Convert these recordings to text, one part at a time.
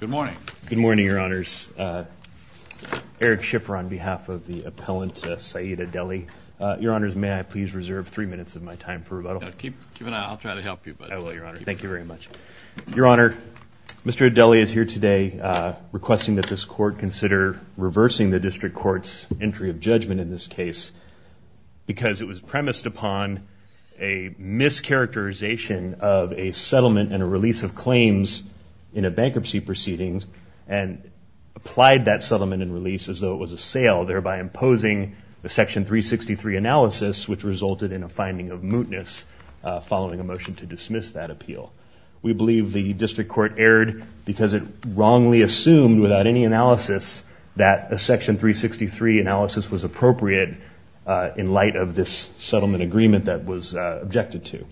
Good morning. Good morning, Your Honors. Eric Schiffer on behalf of the appellant Saeed Adeli. Your Honors, may I please reserve three minutes of my time for rebuttal? Keep an eye out. I'll try to help you. I will, Your Honor. Thank you very much. Your Honor, Mr. Adeli is here today requesting that this Court consider reversing the District Court's entry of judgment in this case because it was premised upon a mischaracterization of a settlement and a release of claims in a bankruptcy proceedings and applied that settlement and release as though it was a sale, thereby imposing a Section 363 analysis which resulted in a finding of mootness following a motion to dismiss that appeal. We believe the District Court erred because it wrongly assumed without any analysis that a Section 363 analysis was appropriate in light of this settlement agreement that was objected to.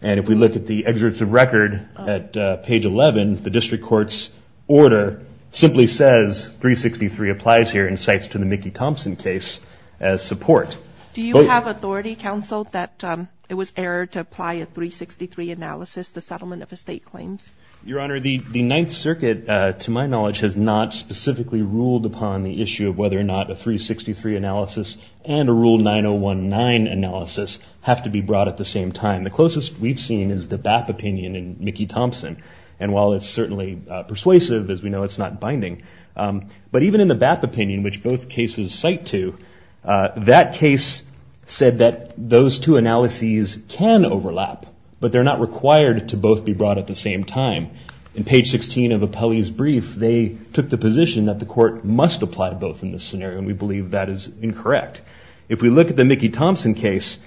And if we look at the excerpts of record at page 11, the District Court's order simply says 363 applies here and cites to the Mickey Thompson case as support. Do you have authority, counsel, that it was error to apply a 363 analysis to settlement of estate claims? Your Honor, the Ninth Circuit, to my knowledge, has not specifically ruled upon the issue of whether or not a 363 analysis and a Rule 9019 analysis have to be brought at the same time. The closest we've seen is the BAP opinion in Mickey Thompson. And while it's certainly persuasive, as we know, it's not binding. But even in the BAP opinion, which both cases cite to, that case said that those two analyses can overlap, but they're not required to both be brought at the same time. In page 16 of Appellee's brief, they took the position that the court must apply to both in this scenario, and we believe that is incorrect. If we look at the Mickey Thompson case,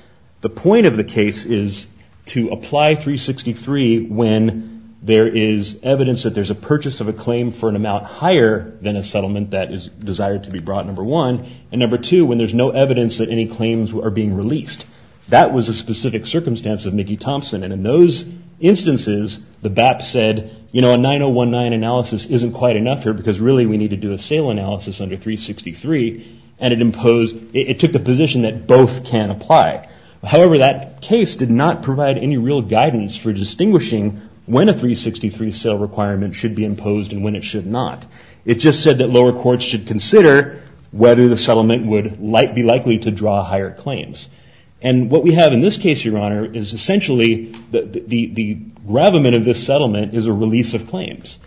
the point of the case is to apply 363 when there is evidence that there's a purchase of a claim for an amount higher than a settlement that is desired to be brought, number one. And number two, when there's no evidence that any claims are being released. That was a specific circumstance of Mickey Thompson. And in those instances, the BAP said, you know, a 9019 analysis isn't quite enough here because really we need to do a sale analysis under 363. And it imposed, it took the position that both can apply. However, that case did not provide any real guidance for distinguishing when a 363 sale requirement should be imposed and when it should not. It just said that lower courts should consider whether the settlement should be brought or not, and be likely to draw higher claims. And what we have in this case, Your Honor, is essentially the gravamen of this settlement is a release of claims.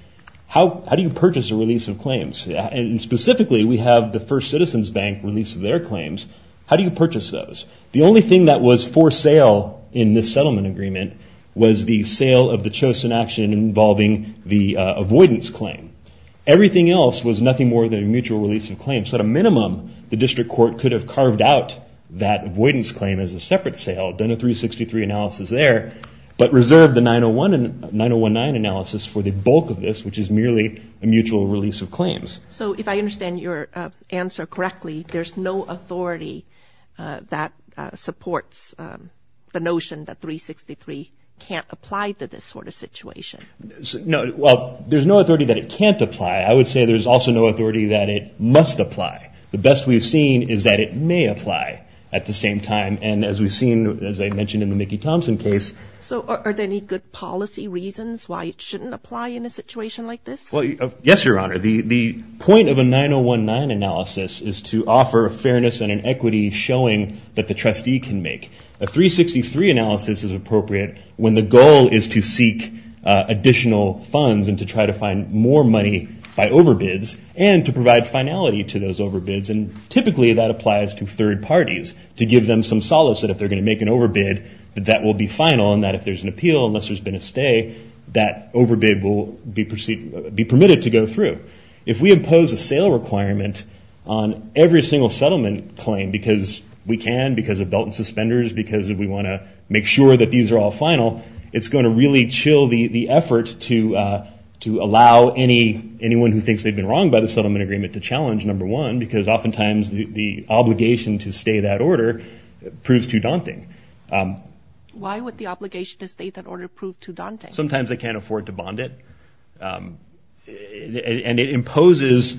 How do you purchase a release of claims? And specifically, we have the First Citizens Bank release of their claims. How do you purchase those? The only thing that was for sale in this settlement agreement was the sale of the chosen action involving the avoidance claim. Everything else was nothing more than a mutual release of claims. So at a minimum, the district court could have carved out that avoidance claim as a separate sale, done a 363 analysis there, but reserved the 9019 analysis for the bulk of this, which is merely a mutual release of claims. So if I understand your answer correctly, there's no authority that supports the notion that 363 can't apply to this sort of situation? Well, there's no authority that it can't apply. I would say there's also no authority that it must apply. The best we've seen is that it may apply at the same time. And as we've seen, as I mentioned in the Mickey Thompson case. So are there any good policy reasons why it shouldn't apply in a situation like this? Well, yes, Your Honor. The point of a 9019 analysis is to offer fairness and an equity showing that the additional funds and to try to find more money by overbids and to provide finality to those overbids. And typically that applies to third parties, to give them some solace that if they're going to make an overbid, that that will be final and that if there's an appeal, unless there's been a stay, that overbid will be permitted to go through. If we impose a sale requirement on every single settlement claim because we can, because of belt and to allow anyone who thinks they've been wronged by the settlement agreement to challenge, number one, because oftentimes the obligation to stay that order proves too daunting. Why would the obligation to stay that order prove too daunting? Sometimes they can't afford to bond it. And it imposes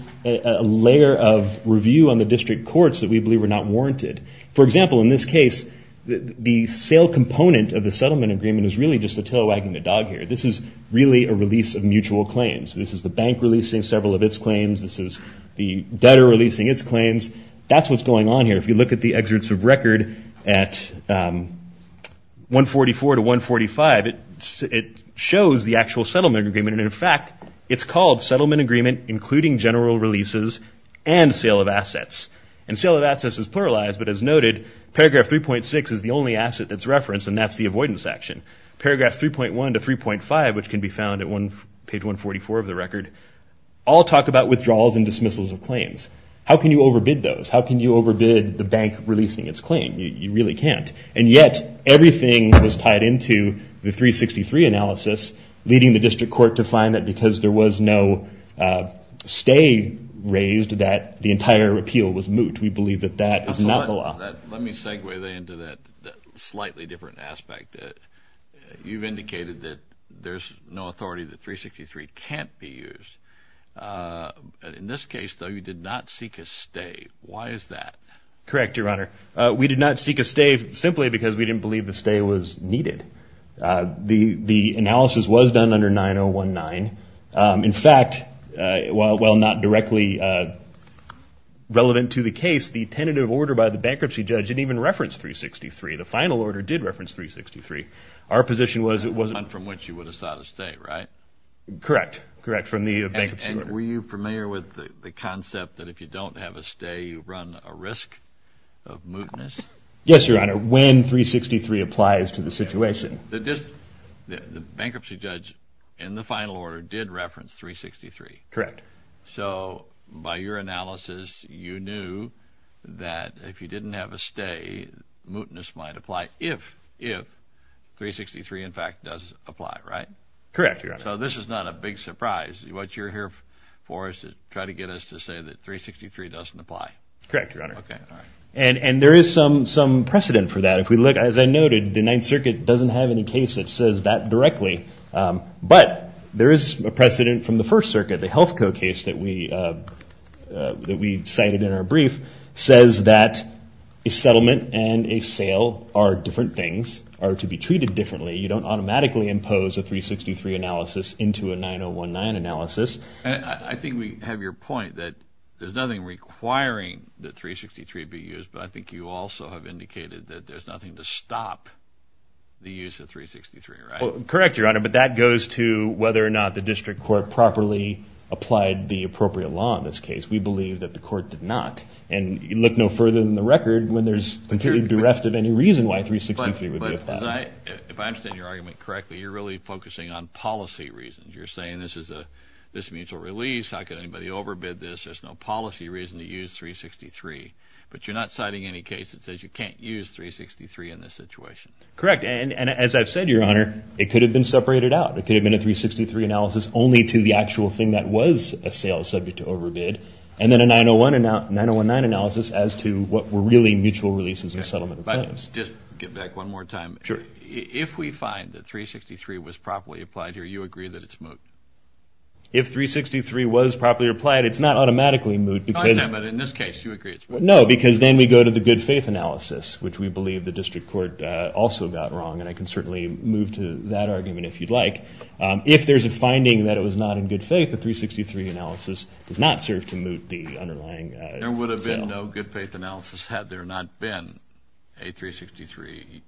a layer of review on the district courts that we believe are not warranted. For example, in this case, the sale component of the settlement agreement is really just a tail wagging the really a release of mutual claims. This is the bank releasing several of its claims. This is the debtor releasing its claims. That's what's going on here. If you look at the excerpts of record at 144 to 145, it shows the actual settlement agreement. And, in fact, it's called settlement agreement including general releases and sale of assets. And sale of assets is pluralized, but as noted, paragraph 3.6 is the only asset that's referenced, and that's the avoidance action. Paragraphs 3.1 to 3.5, which can be found at page 144 of the record, all talk about withdrawals and dismissals of claims. How can you overbid those? How can you overbid the bank releasing its claim? You really can't. And yet everything was tied into the 363 analysis, leading the district court to find that because there was no stay raised that the entire appeal was moot. We believe that that is not the law. Let me segue into that slightly different aspect. You've indicated that there's no authority that 363 can't be used. In this case, though, you did not seek a stay. Why is that? Correct, Your Honor. We did not seek a stay simply because we didn't believe the stay was needed. The analysis was done under 9019. In fact, while not directly relevant to the case, the tentative order by the bankruptcy judge didn't even reference 363. The final order did reference 363. Our position was it wasn't one from which you would have sought a stay, right? Correct. Correct, from the bankruptcy order. And were you familiar with the concept that if you don't have a stay, you run a risk of mootness? Yes, Your Honor, when 363 applies to the situation. The bankruptcy judge in the final order did reference 363. Correct. So by your analysis, you knew that if you didn't have a stay, mootness might apply if 363, in fact, does apply, right? Correct, Your Honor. So this is not a big surprise. What you're here for is to try to get us to say that 363 doesn't apply. Correct, Your Honor. Okay, all right. And there is some precedent for that. If we look, as I noted, the Ninth Circuit doesn't have any case that says that directly. But there is a precedent from the First Circuit. The Health Code case that we cited in our brief says that a settlement and a sale are different things, are to be treated differently. You don't automatically impose a 363 analysis into a 9019 analysis. I think we have your point that there's nothing requiring that 363 be used, but I think you also have indicated that there's nothing to stop the use of 363, right? Correct, Your Honor. But that goes to whether or not the district court properly applied the appropriate law in this case. We believe that the court did not. And you look no further than the record when there's, in theory, bereft of any reason why 363 would be applied. But if I understand your argument correctly, you're really focusing on policy reasons. You're saying this is a mutual release. How can anybody overbid this? There's no policy reason to use 363. But you're not citing any case that says you can't use 363 in this situation. Correct. And as I've said, Your Honor, it could have been separated out. It could have been a 363 analysis only to the actual thing that was a sale subject to overbid, and then a 9019 analysis as to what were really mutual releases of settlement. Just get back one more time. Sure. If we find that 363 was properly applied here, you agree that it's moot? If 363 was properly applied, it's not automatically moot. In this case, you agree it's moot. No, because then we go to the good faith analysis, which we believe the district court also got wrong. And I can certainly move to that argument if you'd like. If there's a finding that it was not in good faith, the 363 analysis does not serve to moot the underlying. There would have been no good faith analysis had there not been a 363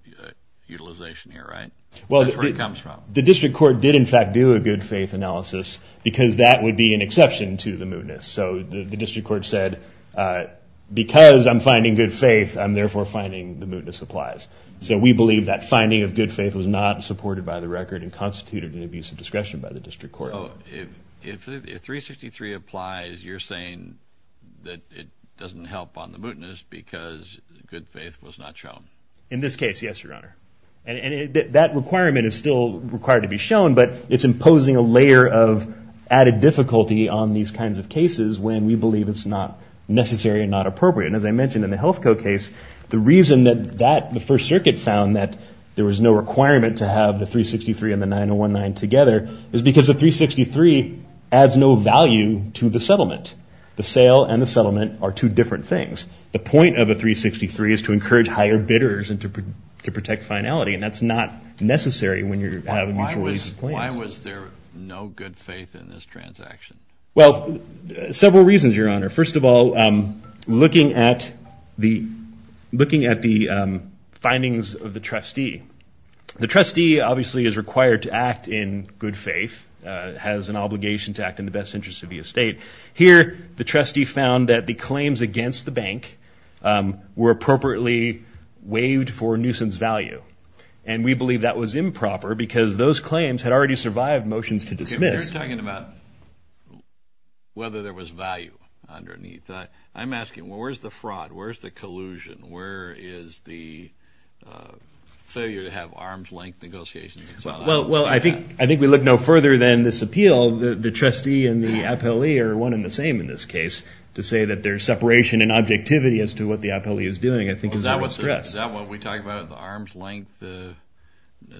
utilization here, right? That's where it comes from. The district court did, in fact, do a good faith analysis because that would be an exception to the mootness. So the district court said, because I'm finding good faith, I'm therefore finding the mootness applies. So we believe that finding of good faith was not supported by the record and constituted an abuse of discretion by the district court. If 363 applies, you're saying that it doesn't help on the mootness because good faith was not shown. In this case, yes, Your Honor. And that requirement is still required to be shown, but it's imposing a layer of added difficulty on these kinds of cases when we believe it's not necessary and not appropriate. And as I mentioned in the Health Code case, the reason that the First Circuit found that there was no requirement to have the 363 and the 9019 together is because the 363 adds no value to the settlement. The sale and the settlement are two different things. The point of a 363 is to encourage higher bidders and to protect finality, and that's not necessary when you're having mutual use of claims. Why was there no good faith in this transaction? Well, several reasons, Your Honor. First of all, looking at the findings of the trustee. The trustee obviously is required to act in good faith, has an obligation to act in the best interest of the estate. Here, the trustee found that the claims against the bank were appropriately waived for nuisance value, and we believe that was improper because those claims had already survived motions to dismiss. You're talking about whether there was value underneath. I'm asking, where's the fraud? Where's the collusion? Where is the failure to have arm's length negotiations? Well, I think we look no further than this appeal. First of all, the trustee and the appellee are one and the same in this case. To say that there's separation in objectivity as to what the appellee is doing, I think, is under stress. Is that what we're talking about, the arm's length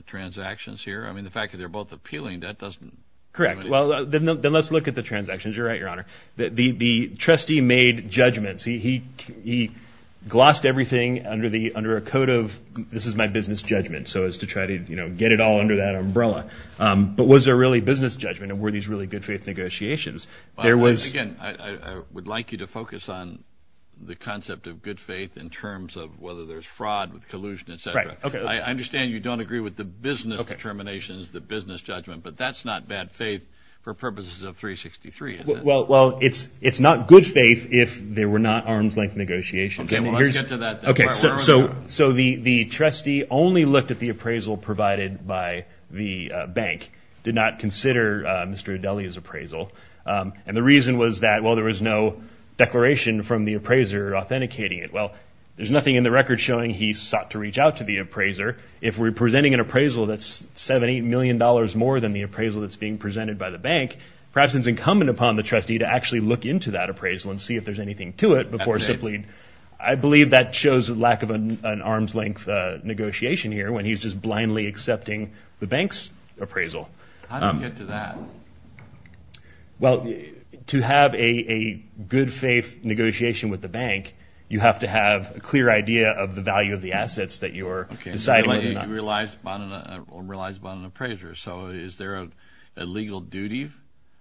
transactions here? I mean, the fact that they're both appealing, that doesn't do anything. Correct. Well, then let's look at the transactions. You're right, Your Honor. The trustee made judgments. He glossed everything under a code of, this is my business judgment, so as to try to get it all under that umbrella. But was there really business judgment, and were these really good faith negotiations? Again, I would like you to focus on the concept of good faith in terms of whether there's fraud with collusion, et cetera. I understand you don't agree with the business determinations, the business judgment, but that's not bad faith for purposes of 363, is it? Well, it's not good faith if there were not arm's length negotiations. Okay, well, let's get to that then. Okay, so the trustee only looked at the appraisal provided by the bank, did not consider Mr. Adeli's appraisal. And the reason was that, well, there was no declaration from the appraiser authenticating it. Well, there's nothing in the record showing he sought to reach out to the appraiser. If we're presenting an appraisal that's $70 million more than the appraisal that's being presented by the bank, perhaps it's incumbent upon the trustee to actually look into that appraisal and see if there's anything to it before simply. I believe that shows a lack of an arm's length negotiation here when he's just blindly accepting the bank's appraisal. How do you get to that? Well, to have a good faith negotiation with the bank, you have to have a clear idea of the value of the assets that you're deciding on. Okay, you realize upon an appraiser, so is there a legal duty?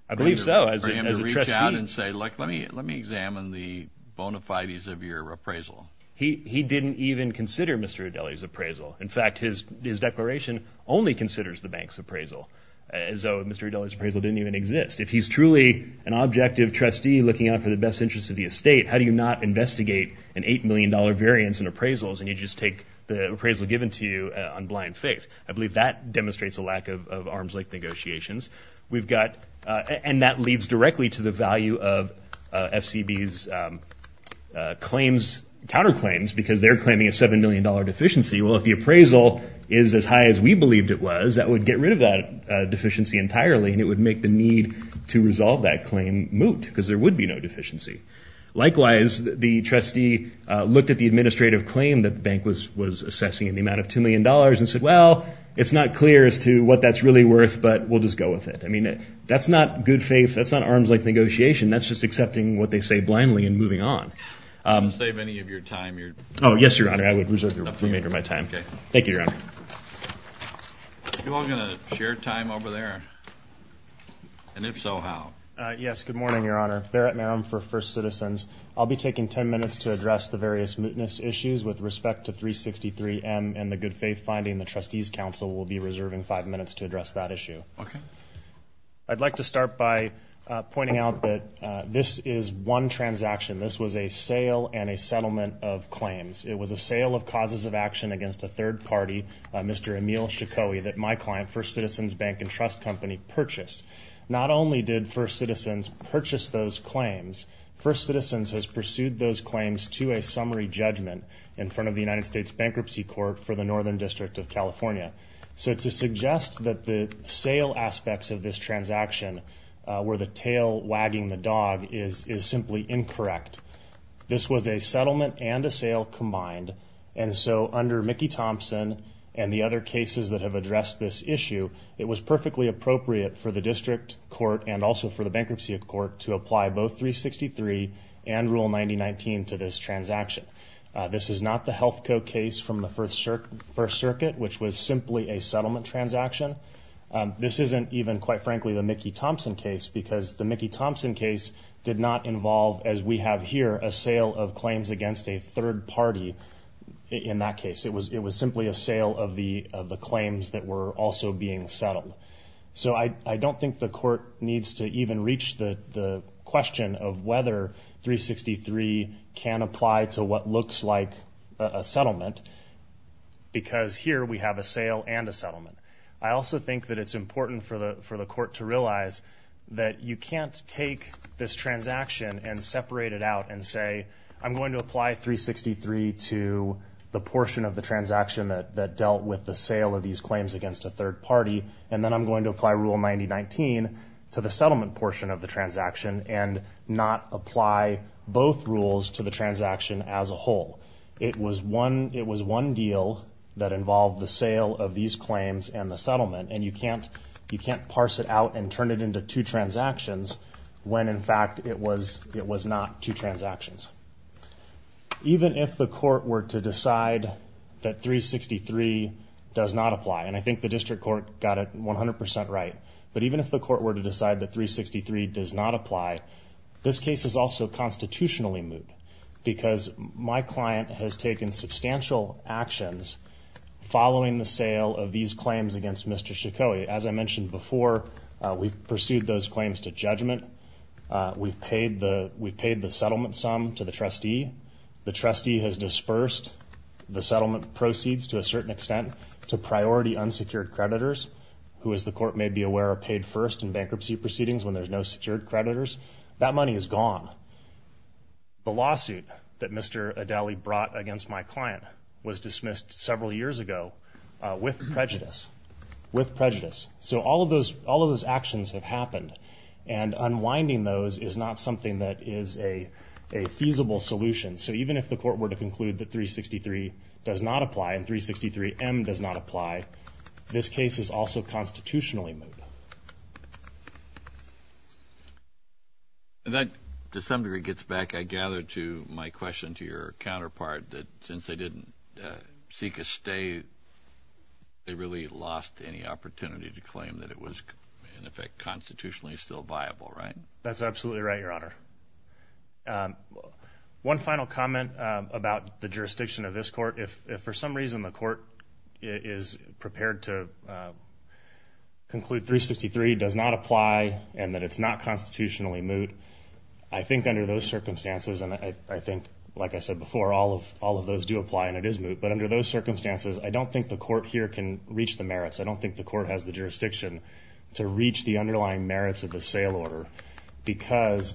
I believe so. For him to reach out and say, look, let me examine the bona fides of your appraisal. He didn't even consider Mr. Adeli's appraisal. In fact, his declaration only considers the bank's appraisal, as though Mr. Adeli's appraisal didn't even exist. If he's truly an objective trustee looking out for the best interest of the estate, how do you not investigate an $8 million variance in appraisals and you just take the appraisal given to you on blind faith? I believe that demonstrates a lack of arm's length negotiations. And that leads directly to the value of FCB's counterclaims because they're claiming a $7 million deficiency. Well, if the appraisal is as high as we believed it was, that would get rid of that deficiency entirely, and it would make the need to resolve that claim moot because there would be no deficiency. Likewise, the trustee looked at the administrative claim that the bank was assessing in the amount of $2 million and said, well, it's not clear as to what that's really worth, but we'll just go with it. I mean, that's not good faith. That's not arm's length negotiation. That's just accepting what they say blindly and moving on. Would you save any of your time? Oh, yes, Your Honor. I would reserve the remainder of my time. Okay. Thank you, Your Honor. Are you all going to share time over there? And if so, how? Yes. Good morning, Your Honor. Barrett Marum for First Citizens. I'll be taking ten minutes to address the various mootness issues with respect to 363M and the good faith finding. The trustee's counsel will be reserving five minutes to address that issue. Okay. I'd like to start by pointing out that this is one transaction. This was a sale and a settlement of claims. It was a sale of causes of action against a third party, Mr. Emil Shakoey, that my client, First Citizens Bank and Trust Company, purchased. Not only did First Citizens purchase those claims, First Citizens has pursued those claims to a summary judgment in front of the United States Bankruptcy Court for the Northern District of California. So to suggest that the sale aspects of this transaction were the tail wagging the dog is simply incorrect. This was a settlement and a sale combined, and so under Mickey Thompson and the other cases that have addressed this issue, it was perfectly appropriate for the district court and also for the bankruptcy court to apply both 363 and Rule 90-19 to this transaction. This is not the health code case from the First Circuit, which was simply a settlement transaction. This isn't even, quite frankly, the Mickey Thompson case because the Mickey Thompson case did not involve, as we have here, a sale of claims against a third party in that case. It was simply a sale of the claims that were also being settled. So I don't think the court needs to even reach the question of whether 363 can apply to what looks like a settlement because here we have a sale and a settlement. I also think that it's important for the court to realize that you can't take this transaction and separate it out and say, I'm going to apply 363 to the portion of the transaction that dealt with the sale of these claims against a third party, and then I'm going to apply Rule 90-19 to the settlement portion of the transaction and not apply both rules to the transaction as a whole. It was one deal that involved the sale of these claims and the settlement, and you can't parse it out and turn it into two transactions when, in fact, it was not two transactions. Even if the court were to decide that 363 does not apply, and I think the district court got it 100% right, but even if the court were to decide that 363 does not apply, this case is also constitutionally moot because my client has taken substantial actions following the sale of these claims against Mr. Shakoey. As I mentioned before, we've pursued those claims to judgment. We've paid the settlement sum to the trustee. The trustee has dispersed the settlement proceeds to a certain extent to priority unsecured creditors who, as the court may be aware, are paid first in bankruptcy proceedings when there's no secured creditors. That money is gone. The lawsuit that Mr. Adaly brought against my client was dismissed several years ago with prejudice, with prejudice. So all of those actions have happened, and unwinding those is not something that is a feasible solution. So even if the court were to conclude that 363 does not apply and 363M does not apply, this case is also constitutionally moot. And that, to some degree, gets back, I gather, to my question to your counterpart, that since they didn't seek a stay, they really lost any opportunity to claim that it was, in effect, constitutionally still viable, right? That's absolutely right, Your Honor. One final comment about the jurisdiction of this court. If for some reason the court is prepared to conclude 363 does not apply and that it's not constitutionally moot, I think under those circumstances, and I think, like I said before, all of those do apply and it is moot, but under those circumstances, I don't think the court here can reach the merits. I don't think the court has the jurisdiction to reach the underlying merits of the sale order because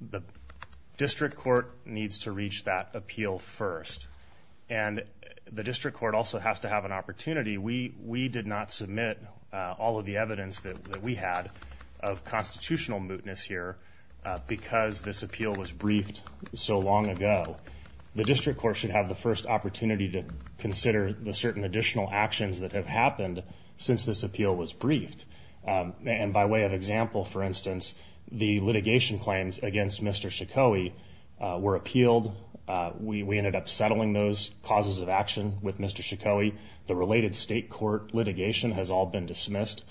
the district court needs to reach that appeal first. And the district court also has to have an opportunity. We did not submit all of the evidence that we had of constitutional mootness here because this appeal was briefed so long ago. The district court should have the first opportunity to consider the certain additional actions that have happened since this appeal was briefed. And by way of example, for instance, the litigation claims against Mr. Shakoey were appealed. We ended up settling those causes of action with Mr. Shakoey. The related state court litigation has all been dismissed.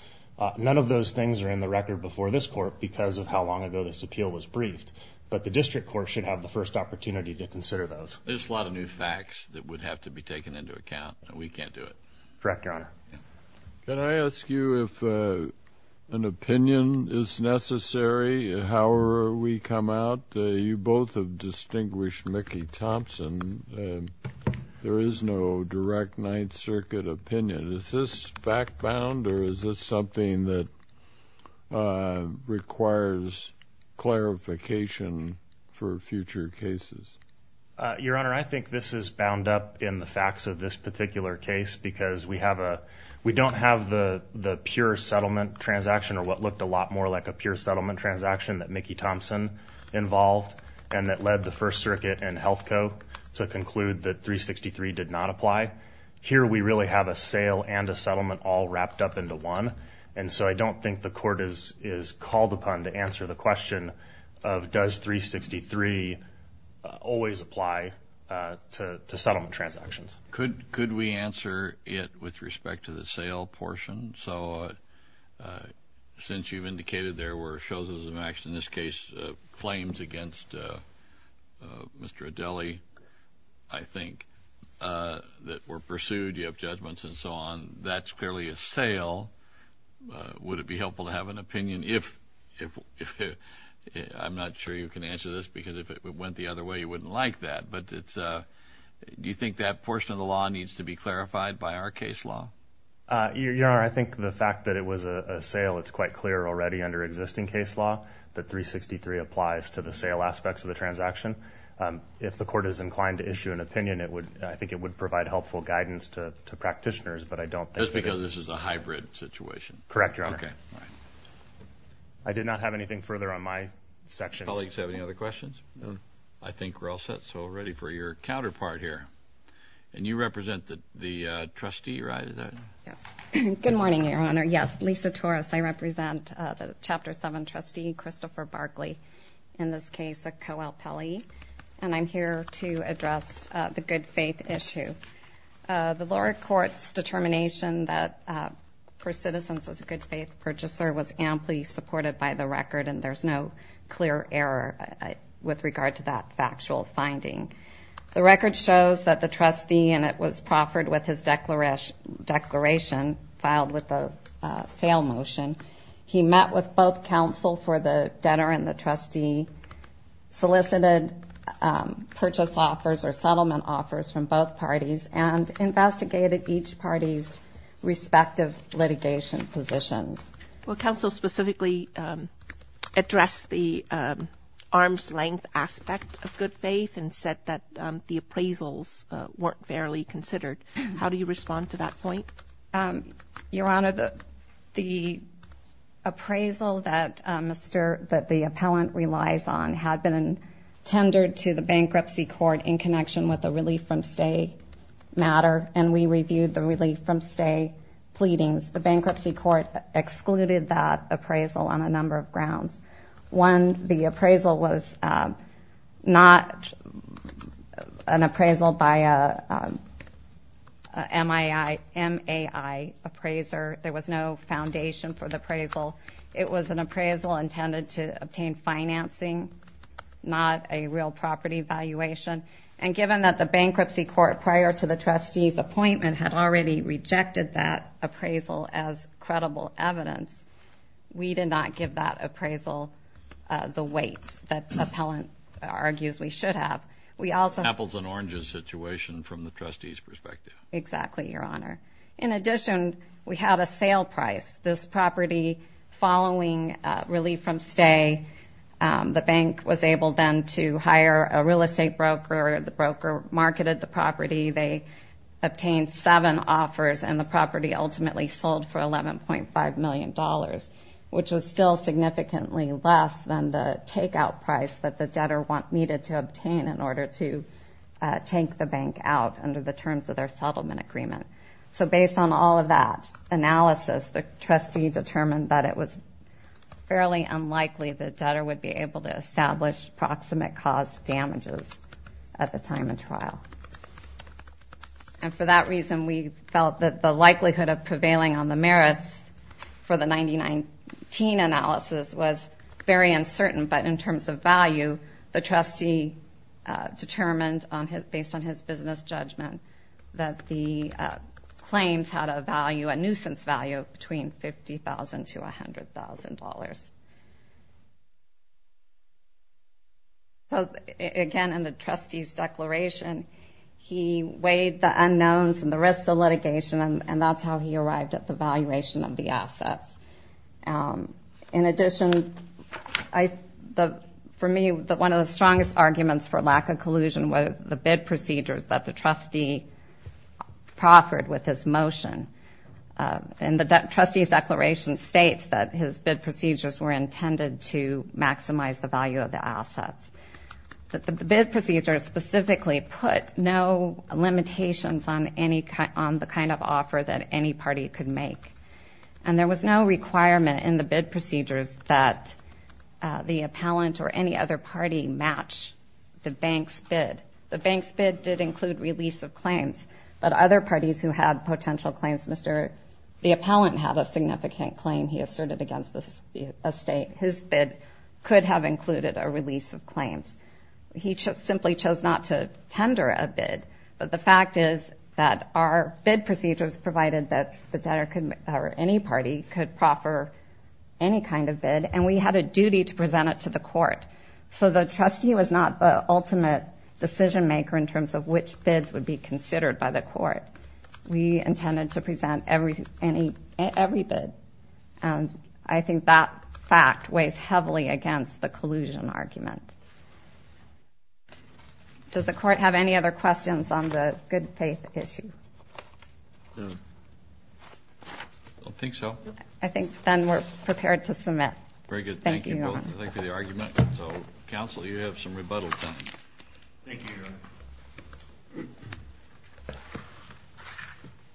None of those things are in the record before this court because of how long ago this appeal was briefed, but the district court should have the first opportunity to consider those. There's a lot of new facts that would have to be taken into account, and we can't do it. Correct, Your Honor. Can I ask you if an opinion is necessary, however we come out? You both have distinguished Mickey Thompson. There is no direct Ninth Circuit opinion. Is this fact-bound or is this something that requires clarification for future cases? Your Honor, I think this is bound up in the facts of this particular case because we don't have the pure settlement transaction or what looked a lot more like a pure settlement transaction that Mickey Thompson involved and that led the First Circuit and Health Co. to conclude that 363 did not apply. Here we really have a sale and a settlement all wrapped up into one, and so I don't think the court is called upon to answer the question of does 363 always apply to settlement transactions. Could we answer it with respect to the sale portion? So since you've indicated there were choses of action, in this case claims against Mr. Adeli, I think, that were pursued, you have judgments and so on, that's clearly a sale. Would it be helpful to have an opinion if, I'm not sure you can answer this, because if it went the other way you wouldn't like that. But do you think that portion of the law needs to be clarified by our case law? Your Honor, I think the fact that it was a sale, it's quite clear already under existing case law that 363 applies to the sale aspects of the transaction. If the court is inclined to issue an opinion, I think it would provide helpful guidance to practitioners, but I don't think... Just because this is a hybrid situation? Correct, Your Honor. Okay. I did not have anything further on my section. Colleagues have any other questions? No. I think we're all set, so we're ready for your counterpart here. And you represent the trustee, right? Yes. Good morning, Your Honor. Yes, Lisa Torres. I represent the Chapter 7 trustee, Christopher Barkley. In this case, a co-LPELI. And I'm here to address the good-faith issue. The lower court's determination that First Citizens was a good-faith purchaser was amply supported by the record, and there's no clear error with regard to that factual finding. The record shows that the trustee, and it was proffered with his declaration, filed with a sale motion. He met with both counsel for the debtor and the trustee, solicited purchase offers or settlement offers from both parties, and investigated each party's respective litigation positions. Well, counsel specifically addressed the arm's-length aspect of good-faith and said that the appraisals weren't fairly considered. How do you respond to that point? Your Honor, the appraisal that the appellant relies on had been tendered to the bankruptcy court in connection with a relief-from-stay matter, and we reviewed the relief-from-stay pleadings. The bankruptcy court excluded that appraisal on a number of grounds. One, the appraisal was not an appraisal by a MAI appraiser. There was no foundation for the appraisal. It was an appraisal intended to obtain financing, not a real property valuation. And given that the bankruptcy court, prior to the trustee's appointment, had already rejected that appraisal as credible evidence, we did not give that appraisal the weight that the appellant argues we should have. Apples and oranges situation from the trustee's perspective. Exactly, Your Honor. In addition, we had a sale price. This property, following relief-from-stay, the bank was able then to hire a real estate broker. The broker marketed the property. They obtained seven offers, and the property ultimately sold for $11.5 million, which was still significantly less than the takeout price that the debtor needed to obtain in order to take the bank out under the terms of their settlement agreement. So based on all of that analysis, the trustee determined that it was fairly unlikely the debtor would be able to establish proximate cause damages at the time of trial. And for that reason, we felt that the likelihood of prevailing on the merits for the 1919 analysis was very uncertain. But in terms of value, the trustee determined, based on his business judgment, that the claims had a value, a nuisance value, of between $50,000 to $100,000. Again, in the trustee's declaration, he weighed the unknowns and the risks of litigation, and that's how he arrived at the valuation of the assets. In addition, for me, one of the strongest arguments for lack of collusion was the bid procedures that the trustee proffered with his motion. And the trustee's declaration states that his bid procedures were intended to maximize the value of the assets. But the bid procedures specifically put no limitations on the kind of offer that any party could make. And there was no requirement in the bid procedures that the appellant or any other party match the bank's bid. The bank's bid did include release of claims, but other parties who had potential claims, Mr. the appellant had a significant claim he asserted against the estate. His bid could have included a release of claims. He simply chose not to tender a bid. But the fact is that our bid procedures provided that the debtor or any party could proffer any kind of bid, and we had a duty to present it to the court. So the trustee was not the ultimate decision maker in terms of which bids would be considered by the court. We intended to present every bid. I think that fact weighs heavily against the collusion argument. Does the court have any other questions on the good faith issue? I don't think so. I think then we're prepared to submit. Very good. Thank you both. Thank you for the argument. So, counsel, you have some rebuttal time. Thank you, Your Honor.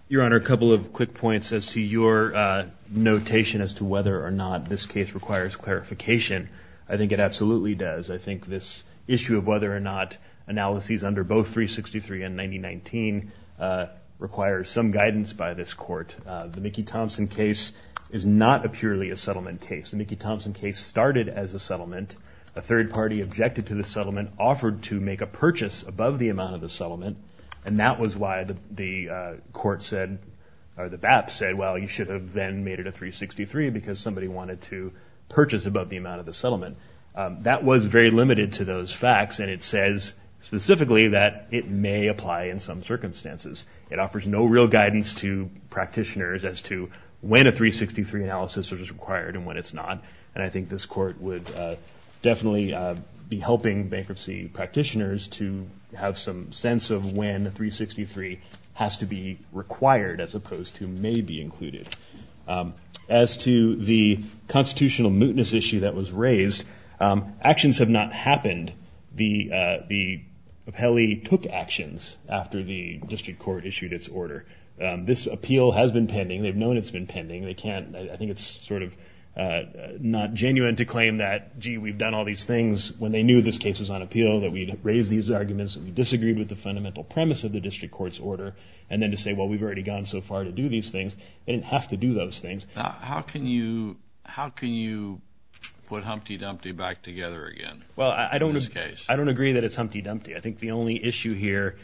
Your Honor, a couple of quick points as to your notation as to whether or not this case requires clarification. I think it absolutely does. I think this issue of whether or not analyses under both 363 and 9019 require some guidance by this court. The Mickey Thompson case is not purely a settlement case. The Mickey Thompson case started as a settlement. A third party objected to the settlement, offered to make a purchase above the amount of the settlement, and that was why the court said or the BAP said, well, you should have then made it a 363 That was very limited to those facts, and it says specifically that it may apply in some circumstances. It offers no real guidance to practitioners as to when a 363 analysis is required and when it's not, and I think this court would definitely be helping bankruptcy practitioners to have some sense of when 363 has to be required, as opposed to may be included. As to the constitutional mootness issue that was raised, actions have not happened. The appellee took actions after the district court issued its order. This appeal has been pending. They've known it's been pending. They can't. I think it's sort of not genuine to claim that, gee, we've done all these things, when they knew this case was on appeal, that we'd raised these arguments, that we disagreed with the fundamental premise of the district court's order, and then to say, well, we've already gone so far to do these things. They didn't have to do those things. How can you put Humpty Dumpty back together again in this case? Well, I don't agree that it's Humpty Dumpty. I think the only issue here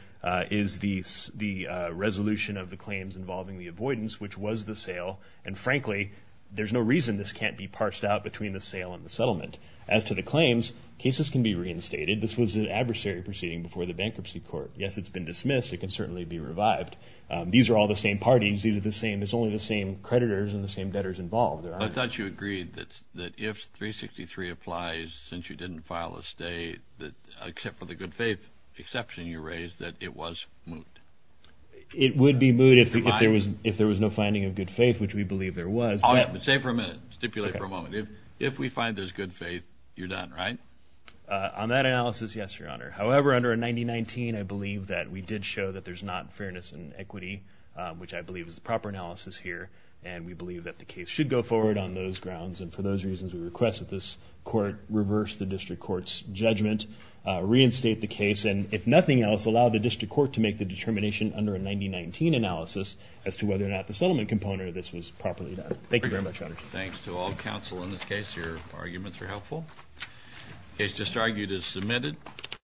is the resolution of the claims involving the avoidance, which was the sale, and, frankly, there's no reason this can't be parsed out between the sale and the settlement. As to the claims, cases can be reinstated. This was an adversary proceeding before the bankruptcy court. Yes, it's been dismissed. It can certainly be revived. These are all the same parties. These are the same. It's only the same creditors and the same debtors involved. I thought you agreed that if 363 applies, since you didn't file a stay, except for the good faith exception you raised, that it was moot. It would be moot if there was no finding of good faith, which we believe there was. Oh, yeah, but stay for a minute. Stipulate for a moment. If we find there's good faith, you're done, right? On that analysis, yes, Your Honor. However, under 9019, I believe that we did show that there's not fairness in equity, which I believe is the proper analysis here, and we believe that the case should go forward on those grounds, and for those reasons we request that this court reverse the district court's judgment, reinstate the case, and if nothing else, allow the district court to make the determination under a 9019 analysis as to whether or not the settlement component of this was properly done. Thank you very much, Your Honor. Thanks to all counsel in this case. Your arguments are helpful. The case just argued is submitted.